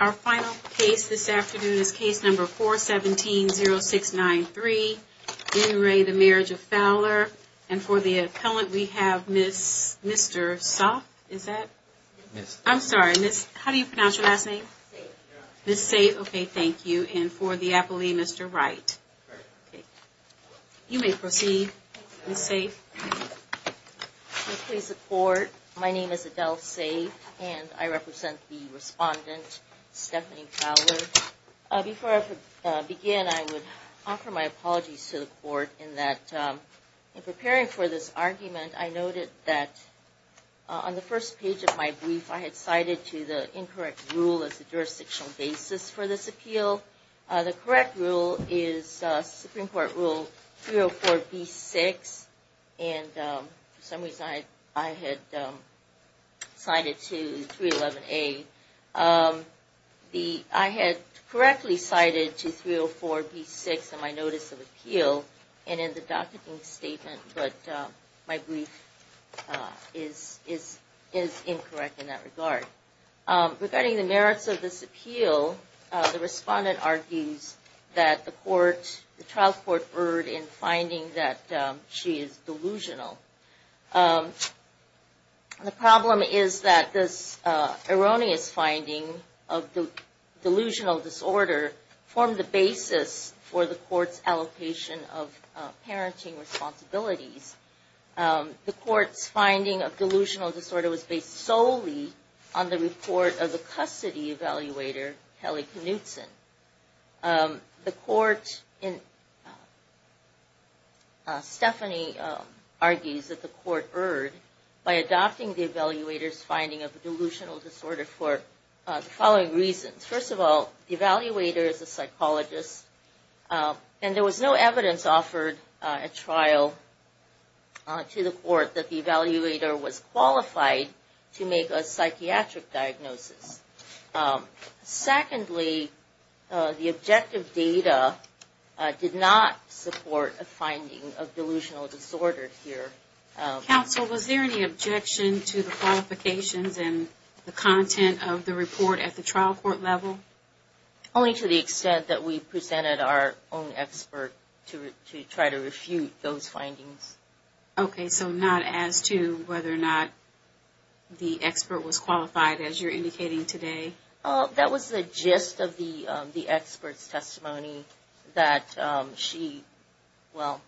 Our final case this afternoon is case number 417-0693. In re the Marriage of Fowler. And for the appellant we have Miss, Mr. Soff, is that? Yes. I'm sorry, Miss, how do you pronounce your last name? Sayf. Miss Sayf, okay, thank you. And for the appellee, Mr. Wright. Wright. Okay. You may proceed, Miss Sayf. Please support. My name is Adele Sayf and I represent the respondent, Stephanie Fowler. Before I begin, I would offer my apologies to the court in that in preparing for this argument, I noted that on the first page of my brief, I had cited to the incorrect rule as the jurisdictional basis for this appeal. The correct rule is Supreme Court Rule 304-B-6 and for some reason I had cited to 311-A. I had correctly cited to 304-B-6 in my notice of appeal and in the docketing statement, but my brief is incorrect in that regard. Regarding the merits of this appeal, the respondent argues that the trial court erred in finding that she is delusional. The problem is that this erroneous finding of delusional disorder formed the basis for the court's allocation of parenting responsibilities. The court's finding of delusional disorder was based solely on the report of the custody evaluator, Kelly Knutson. Stephanie argues that the court erred by adopting the evaluator's finding of delusional disorder for the following reasons. First of all, the evaluator is a psychologist and there was no evidence offered at trial to the court that the evaluator was qualified to make a psychiatric diagnosis. Secondly, the objective data did not support a finding of delusional disorder here. Counsel, was there any objection to the qualifications and the content of the report at the trial court level? Only to the extent that we presented our own expert to try to refute those findings. Okay, so not as to whether or not the expert was qualified as you're indicating today? That was the gist of the expert's testimony that she, well...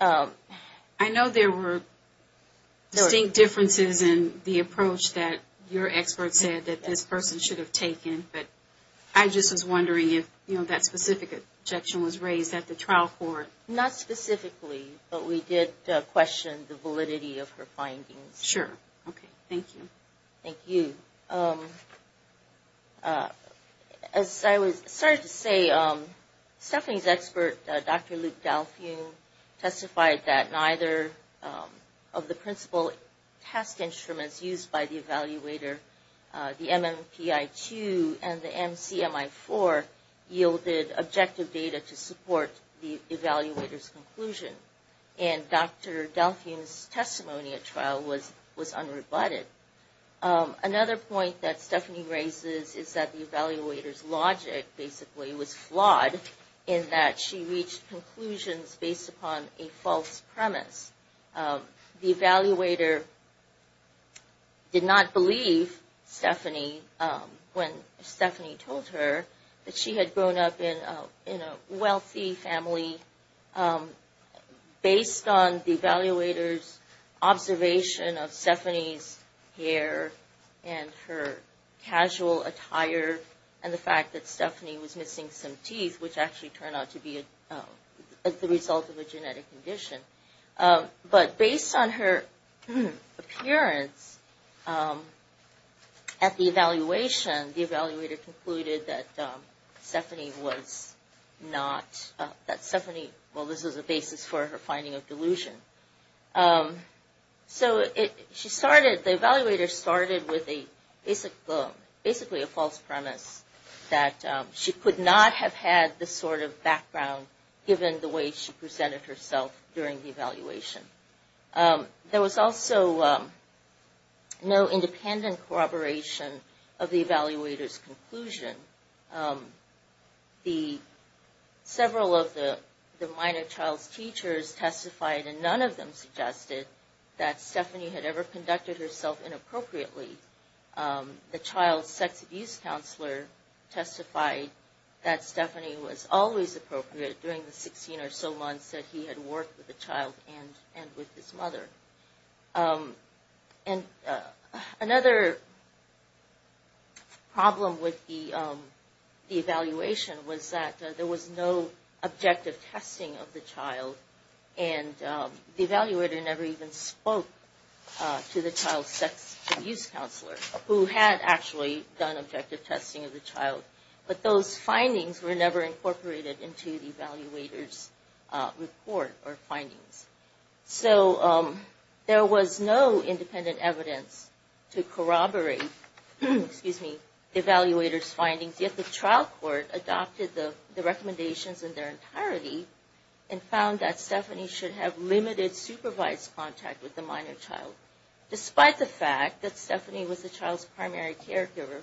I know there were distinct differences in the approach that your expert said that this person should have taken, but I just was wondering if that specific objection was raised at the trial court. Not specifically, but we did question the validity of her findings. Sure. Okay, thank you. Thank you. As I was starting to say, Stephanie's expert, Dr. Luke Dalfion, testified that neither of the principal test instruments used by the evaluator, the MMPI-2 and the MCMI-4, yielded objective data to support the evaluator's conclusion. And Dr. Dalfion's testimony at trial was unrebutted. Another point that Stephanie raises is that the evaluator's logic basically was flawed, in that she reached conclusions based upon a false premise. The evaluator did not believe Stephanie when Stephanie told her that she had grown up in a wealthy family based on the evaluator's observation of Stephanie's hair and her casual attire and the fact that Stephanie was missing some teeth, which actually turned out to be the result of a genetic condition. But based on her appearance at the evaluation, the evaluator concluded that Stephanie was not... that Stephanie... well, this was a basis for her finding of delusion. So the evaluator started with basically a false premise that she could not have had this sort of background given the way she presented herself during the evaluation. There was also no independent corroboration of the evaluator's conclusion. Several of the minor child's teachers testified, and none of them suggested, that Stephanie had ever conducted herself inappropriately. The child's sex abuse counselor testified that Stephanie was always appropriate during the 16 or so months that he had worked with the child and with his mother. And another problem with the evaluation was that there was no objective testing of the child and the evaluator never even spoke to the child's sex abuse counselor, who had actually done objective testing of the child. But those findings were never incorporated into the evaluator's report or findings. So there was no independent evidence to corroborate the evaluator's findings, yet the trial court adopted the recommendations in their entirety and found that Stephanie should have limited supervised contact with the minor child, despite the fact that Stephanie was the child's primary caregiver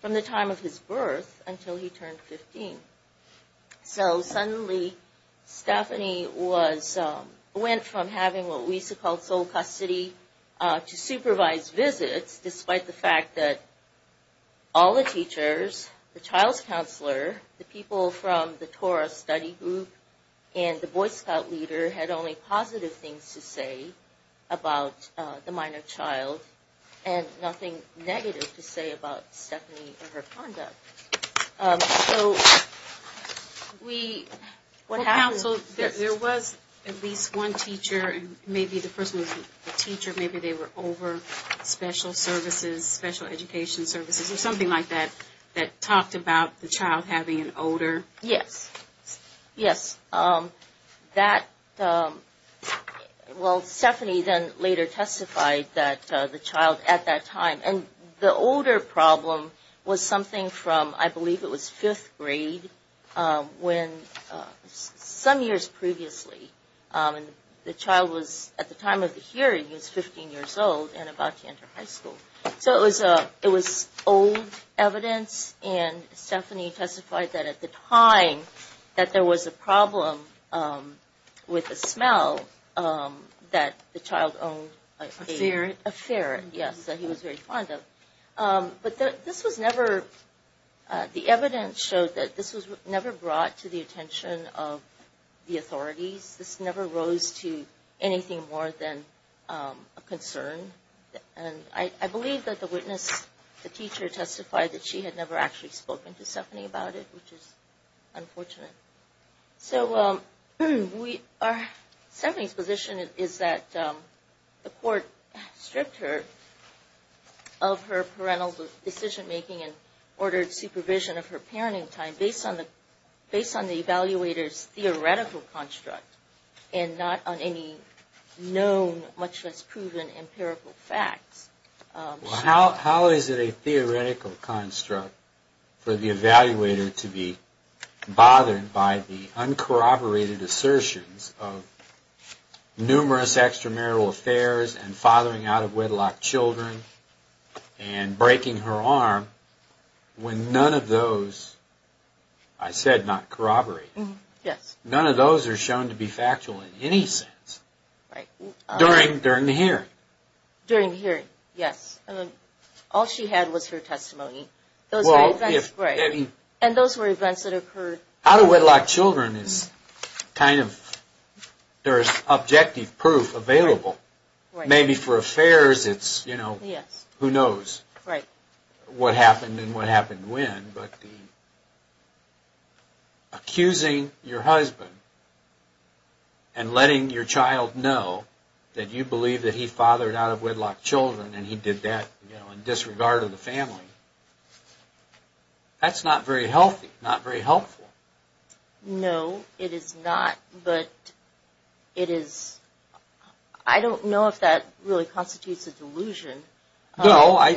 from the time of his birth until he turned 15. So suddenly, Stephanie went from having what we used to call sole custody to supervised visits, despite the fact that all the teachers, the child's counselor, the people from the TORA study group, and the Boy Scout leader had only positive things to say about the minor child, and nothing negative to say about Stephanie and her conduct. So we... There was at least one teacher, maybe the person was a teacher, maybe they were over special services, special education services, or something like that, that talked about the child having an odor. Yes. Yes. That, well, Stephanie then later testified that the child at that time, and the odor problem was something from, I believe it was fifth grade, when some years previously, the child was, at the time of the hearing, was 15 years old and about to enter high school. So it was old evidence, and Stephanie testified that at the time, that there was a problem with the smell that the child owned. A ferret. A ferret, yes, that he was very fond of. But this was never... The evidence showed that this was never brought to the attention of the authorities. This never rose to anything more than a concern. And I believe that the witness, the teacher, testified that she had never actually spoken to Stephanie about it, which is unfortunate. So Stephanie's position is that the court stripped her of her parental decision-making and ordered supervision of her parenting time based on the evaluator's theoretical construct and not on any known, much less proven, empirical facts. How is it a theoretical construct for the evaluator to be bothered by the uncorroborated assertions of numerous extramarital affairs and fathering out-of-wedlock children and breaking her arm when none of those, I said not corroborated, none of those are shown to be factual in any sense during the hearing? During the hearing, yes. All she had was her testimony. And those were events that occurred... Out-of-wedlock children is kind of... There is objective proof available. Maybe for affairs it's, you know, who knows what happened and what happened when. But the... Accusing your husband and letting your child know that you believe that he fathered out-of-wedlock children and he did that in disregard of the family, that's not very healthy, not very helpful. No, it is not, but it is... I don't know if that really constitutes a delusion. No, I...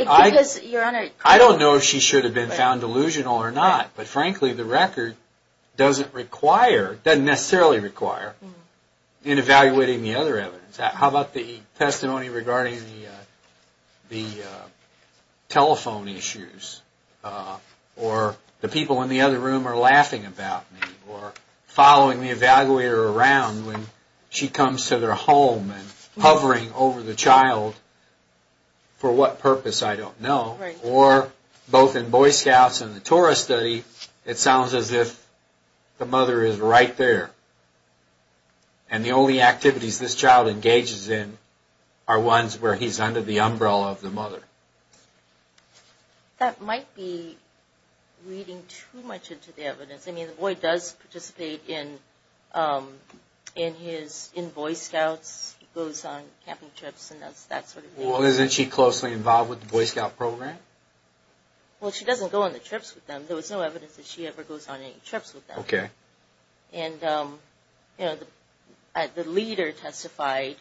I don't know if it's delusional or not, but frankly the record doesn't require, doesn't necessarily require in evaluating the other evidence. How about the testimony regarding the telephone issues or the people in the other room are laughing about me or following the evaluator around when she comes to their home and hovering over the child for what purpose, I don't know. Or both in Boy Scouts and the TORUS study, it sounds as if the mother is right there and the only activities this child engages in are ones where he's under the umbrella of the mother. That might be reading too much into the evidence. I mean, the boy does participate in his... in Boy Scouts. He goes on camping trips and that sort of thing. Well, isn't she closely involved with the Boy Scout program? Well, she doesn't go on the trips with them. There was no evidence that she ever goes on any trips with them. Okay. And, you know, the leader testified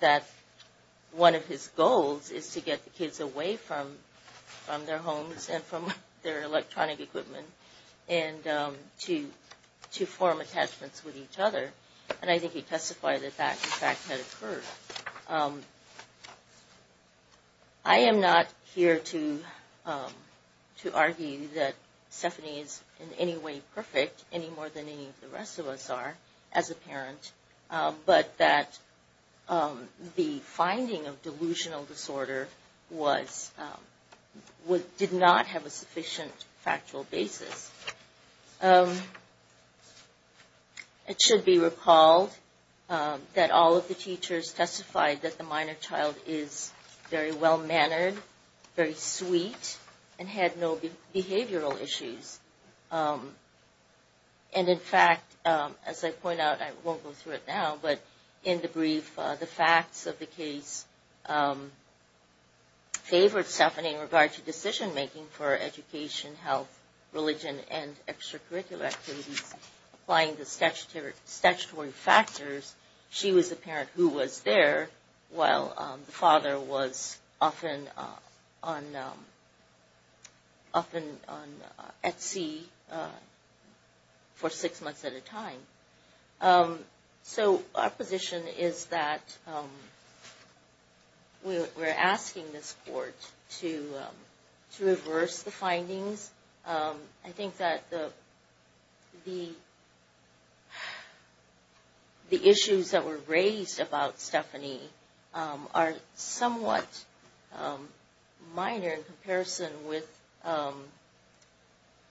that one of his goals is to get the kids away from their homes and from their electronic equipment and to form attachments with each other. And I think he testified that that, in fact, had occurred. I am not here to argue that Stephanie is in any way perfect, any more than any of the rest of us are as a parent, but that the finding of delusional disorder did not have a sufficient factual basis. It should be recalled that all of the teachers testified that the minor child is very well-mannered, very sweet, and had no behavioral issues. And, in fact, as I point out, I won't go through it now, but in the brief, the facts of the case favored Stephanie in regard to decision-making for education, health, religion, and extracurricular activities applying the statutory factors. She was the parent who was there while the father was often at sea for six months at a time. So our position is that we're asking this court to reverse the findings. I think that the issues that were raised about Stephanie are somewhat minor in comparison with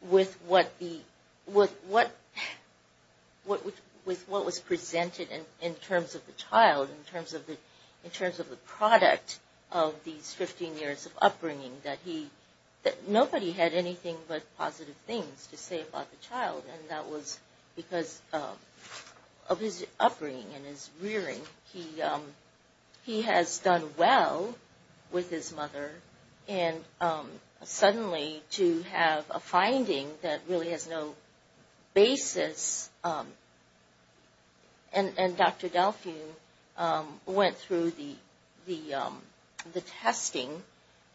what was presented in terms of the child, in terms of the product of these 15 years of upbringing. Nobody had anything but positive things to say about the child, and that was because of his upbringing and his rearing. He has done well with his mother, and suddenly to have a finding that really has no basis, and Dr. Delphi went through the testing,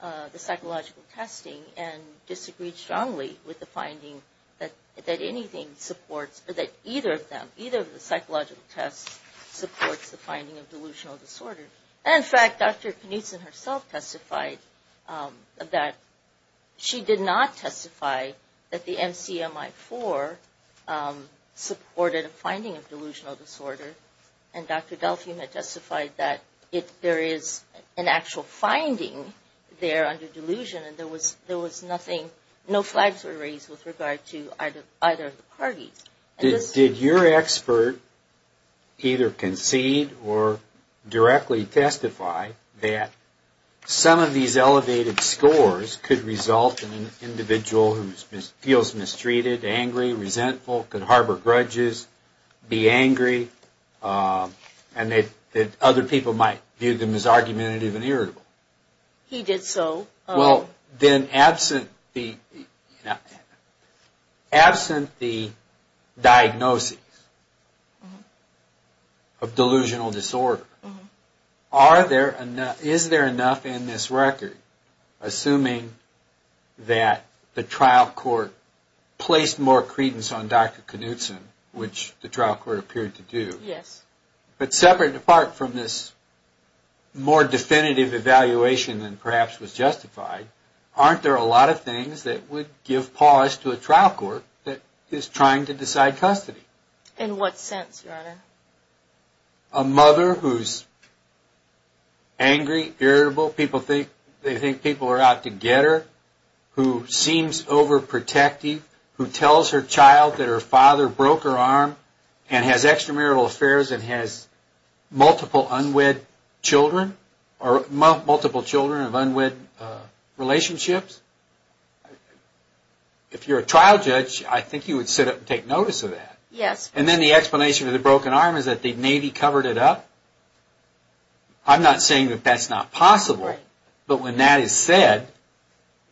the psychological testing, and disagreed strongly with the finding that anything supports, or that either of them, either of the psychological tests supports the finding of delusional disorder. In fact, Dr. Knutson herself testified that she did not testify that the MCMI-IV supported a finding of delusional disorder, and Dr. Delphi had testified that there is an actual finding there under delusion, and there was nothing, no flags were raised with regard to either of the parties. Did your expert either concede or directly testify that some of these elevated scores could result in an individual who feels mistreated, angry, resentful, could harbor grudges, be angry, and that other people might view them as argumentative and irritable? He did so. Well, then absent the diagnoses of delusional disorder, is there enough in this record, assuming that the trial court placed more credence on Dr. Knutson, which the trial court appeared to do, but separate and apart from this more definitive evaluation than perhaps was justified, aren't there a lot of things that would give pause to a trial court that is trying to decide custody? In what sense, Your Honor? A mother who's angry, irritable, people think people are out to get her, who seems overprotective, who tells her child that her father broke her arm and has extramarital affairs and has multiple unwed children, or multiple children of unwed relationships? If you're a trial judge, I think you would sit up and take notice of that. Yes. And then the explanation of the broken arm is that the Navy covered it up? I'm not saying that that's not possible, but when that is said,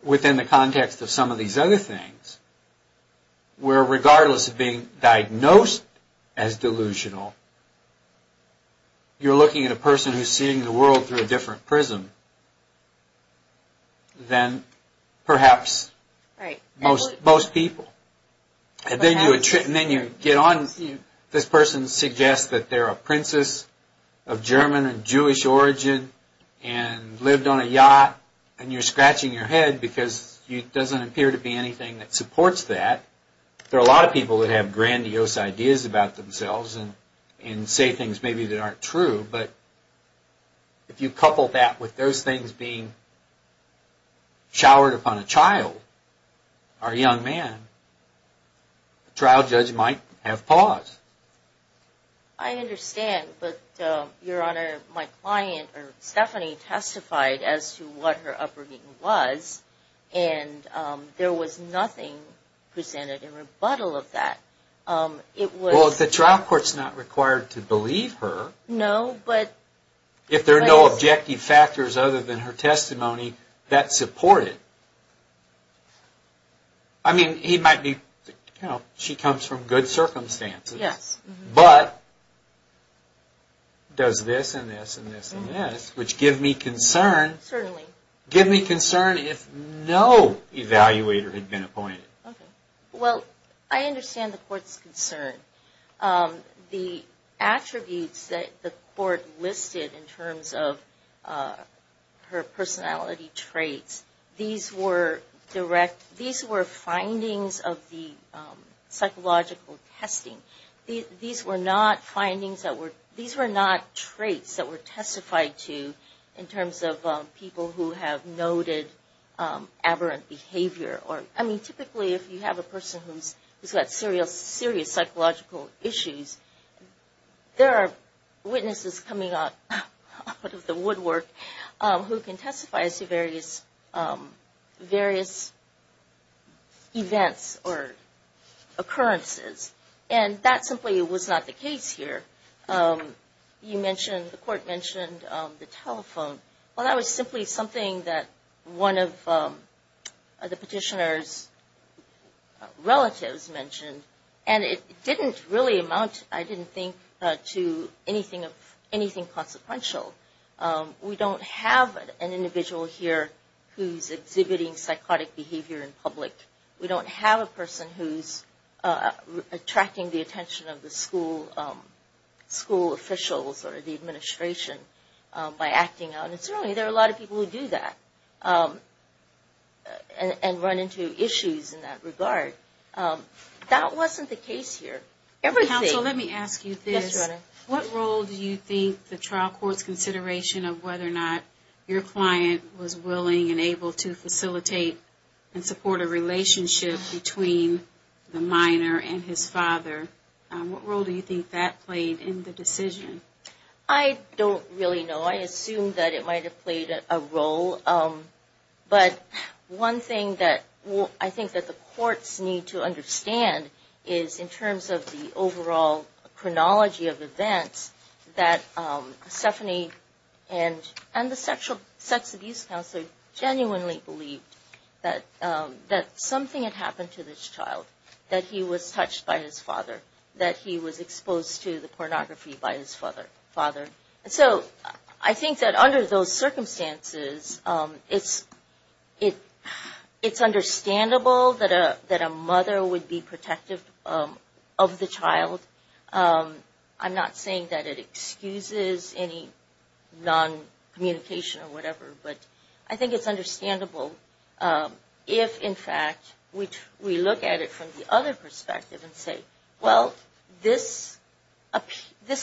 within the context of some of these other things, where regardless of being diagnosed as delusional, you're looking at a person who's seeing the world through a different prism than perhaps most people. And then you get on, this person suggests that they're a princess of German and Jewish origin and lived on a yacht and you're scratching your head because there doesn't appear to be anything that supports that. There are a lot of people who have grandiose ideas about themselves and say things maybe that aren't true, but if you couple that with those things being showered upon a child or a young man, a trial judge might have pause. I understand, but Your Honor, my client, Stephanie, testified as to what her upbringing was and there was nothing presented in rebuttal of that. Well, the trial court's not required to believe her. No, but... If there are no objective factors other than her testimony that support it. I mean, she comes from good circumstances, but does this and this and this and this, which give me concern if no evaluator had been appointed. Well, I understand the court's concern. The attributes that the court listed in terms of her personality traits, these were direct, these were findings of the psychological testing. These were not findings that were, these were not traits that were testified to in terms of people who have noted aberrant behavior. I mean, typically if you have a person who's got serious psychological issues, there are witnesses coming out of the woodwork who can testify to various events or occurrences, and that simply was not the case here. You mentioned, the court mentioned the telephone. Well, that was simply something that one of the petitioner's relatives mentioned, and it didn't really amount, I didn't think, to anything consequential. We don't have an individual here who's exhibiting psychotic behavior in public. We don't have a person who's attracting the attention of the school officials or the administration by acting out. And certainly there are a lot of people who do that and run into issues in that regard. That wasn't the case here. Counsel, let me ask you this. What role do you think the trial court's consideration of whether or not your client was willing and able to facilitate and support a relationship between the minor and his father, what role do you think that played in the decision? I don't really know. I assume that it might have played a role. But one thing that I think that the courts need to understand is in terms of the overall chronology of events, that Stephanie and the sexual sex abuse counselor genuinely believed that something had happened to this child, that he was touched by his father, that he was exposed to the pornography by his father. And so I think that under those circumstances, it's understandable that a mother would be protective of the child. I'm not saying that it excuses any non-communication or whatever, but I think it's understandable if, in fact, we look at it from the other perspective and say, well, this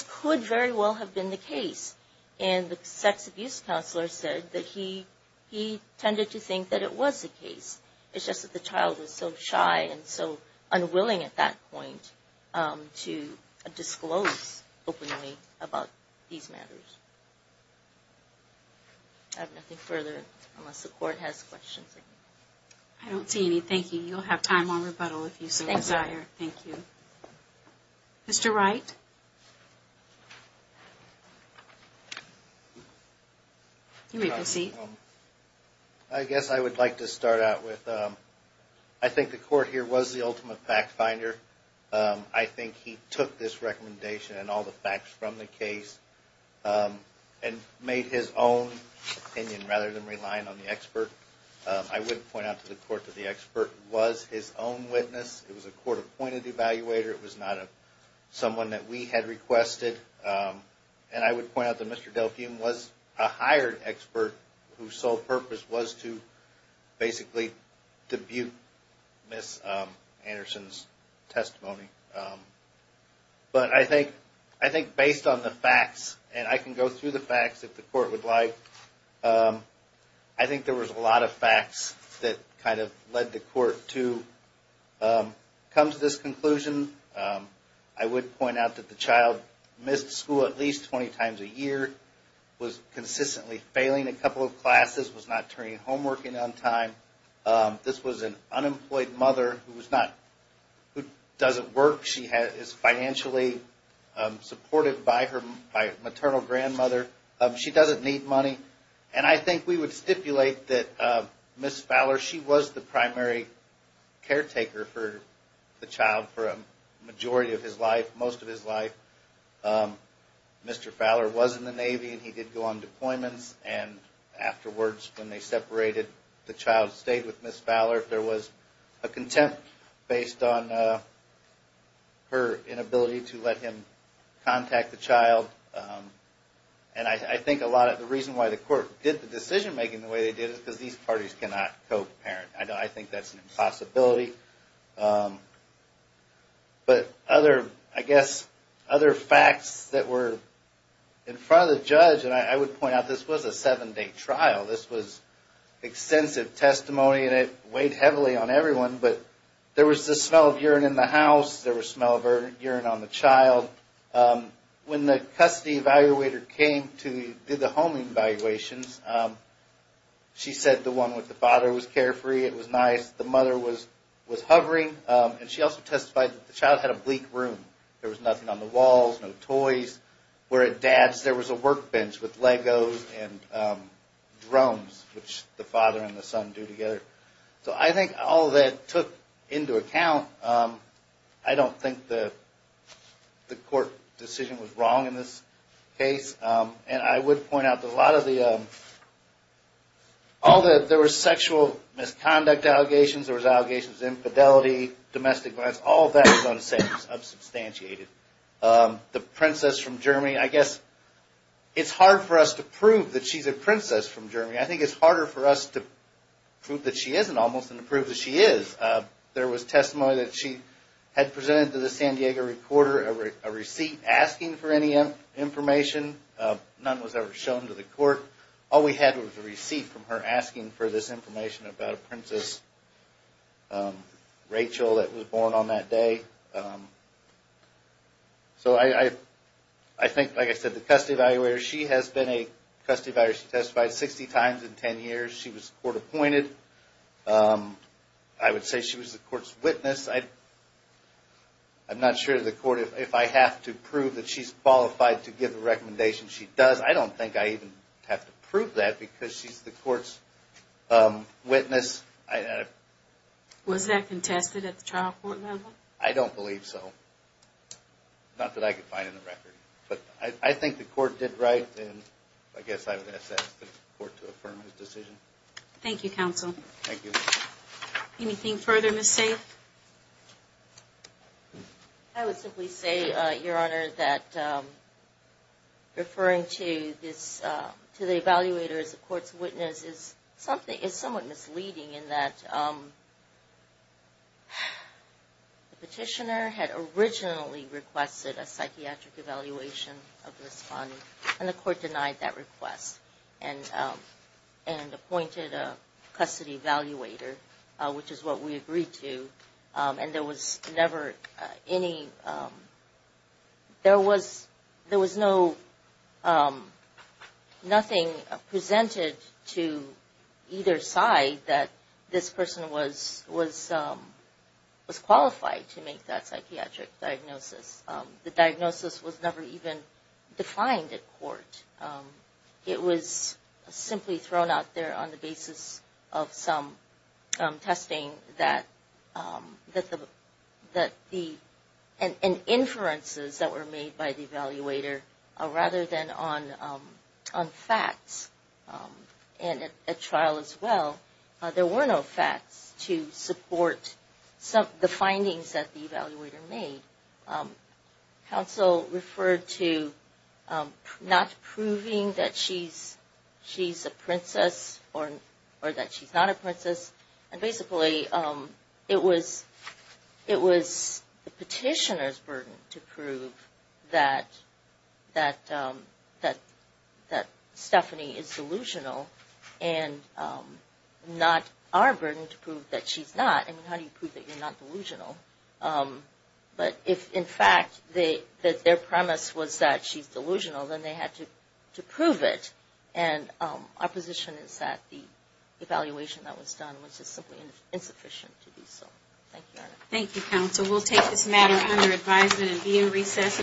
could very well have been the case. And the sex abuse counselor said that he tended to think that it was the case. It's just that the child was so shy and so unwilling at that point to disclose openly about these matters. I have nothing further unless the court has questions. I don't see any. Thank you. You'll have time on rebuttal if you so desire. Thank you. Mr. Wright? You may proceed. I guess I would like to start out with I think the court here was the ultimate fact finder. I think he took this recommendation and all the facts from the case and made his own opinion rather than relying on the expert. I would point out to the court that the expert was his own witness. It was a court-appointed evaluator. It was not someone that we had requested. And I would point out that Mr. Delphium was a hired expert whose sole purpose was to basically debut Miss Anderson's testimony. But I think based on the facts, and I can go through the facts if the court would like, I think there was a lot of facts that kind of led the court to come to this conclusion. I would point out that the child missed school at least 20 times a year, was consistently failing a couple of classes, was not turning homework in on time. This was an unemployed mother who doesn't work. She is financially supported by her maternal grandmother. She doesn't need money. And I think we would stipulate that Miss Fowler, she was the primary caretaker for the child for a majority of his life, most of his life. Mr. Fowler was in the Navy and he did go on deployments. And afterwards when they separated, the child stayed with Miss Fowler. There was a contempt based on her inability to let him contact the child. And I think a lot of the reason why the court did the decision making the way they did is because these parties cannot co-parent. I think that's an impossibility. But other, I guess, other facts that were in front of the judge, and I would point out this was a seven day trial. This was extensive testimony and it weighed heavily on everyone. But there was the smell of urine in the house. There was smell of urine on the child. When the custody evaluator came to do the homing evaluations, she said the one with the father was carefree, it was nice. The mother was hovering. And she also testified that the child had a bleak room. There was nothing on the walls, no toys. Where at Dad's there was a workbench with Legos and drones, which the father and the son do together. So I think all of that took into account. I don't think the court decision was wrong in this case. And I would point out that a lot of the, all the, there was sexual misconduct allegations, there was allegations of infidelity, domestic violence. All of that was unsubstantiated. The princess from Germany, I guess, it's hard for us to prove that she's a princess from Germany. I think it's harder for us to prove that she isn't almost than to prove that she is. There was testimony that she had presented to the San Diego reporter a receipt asking for any information. None was ever shown to the court. All we had was a receipt from her asking for this information about a princess, Rachel, that was born on that day. So I think, like I said, the custody evaluator, she has been a custody evaluator. She testified 60 times in 10 years. She was court appointed. I would say she was the court's witness. I'm not sure to the court if I have to prove that she's qualified to give the recommendation. She does. I don't think I even have to prove that because she's the court's witness. Was that contested at the trial court level? I don't believe so. Not that I could find in the record. But I think the court did right, and I guess I would ask the court to affirm his decision. Thank you, counsel. Thank you. Anything further, Ms. Safe? I would simply say, Your Honor, that referring to the evaluator as the court's witness is somewhat misleading in that the petitioner had originally requested a psychiatric evaluation of Ms. Fonney, and the court denied that request and appointed a custody evaluator, which is what we agreed to. And there was never any – there was no – nothing presented to either side that this person was qualified to make that psychiatric diagnosis. The diagnosis was never even defined at court. It was simply thrown out there on the basis of some testing that the – and inferences that were made by the evaluator rather than on facts. And at trial as well, there were no facts to support the findings that the evaluator made. Counsel referred to not proving that she's a princess or that she's not a princess. And basically, it was the petitioner's burden to prove that Stephanie is delusional and not our burden to prove that she's not. I mean, how do you prove that you're not delusional? But if, in fact, their premise was that she's delusional, then they had to prove it. And our position is that the evaluation that was done was just simply insufficient to do so. Thank you, Your Honor. Thank you, Counsel. We'll take this matter under advisement and be in recess.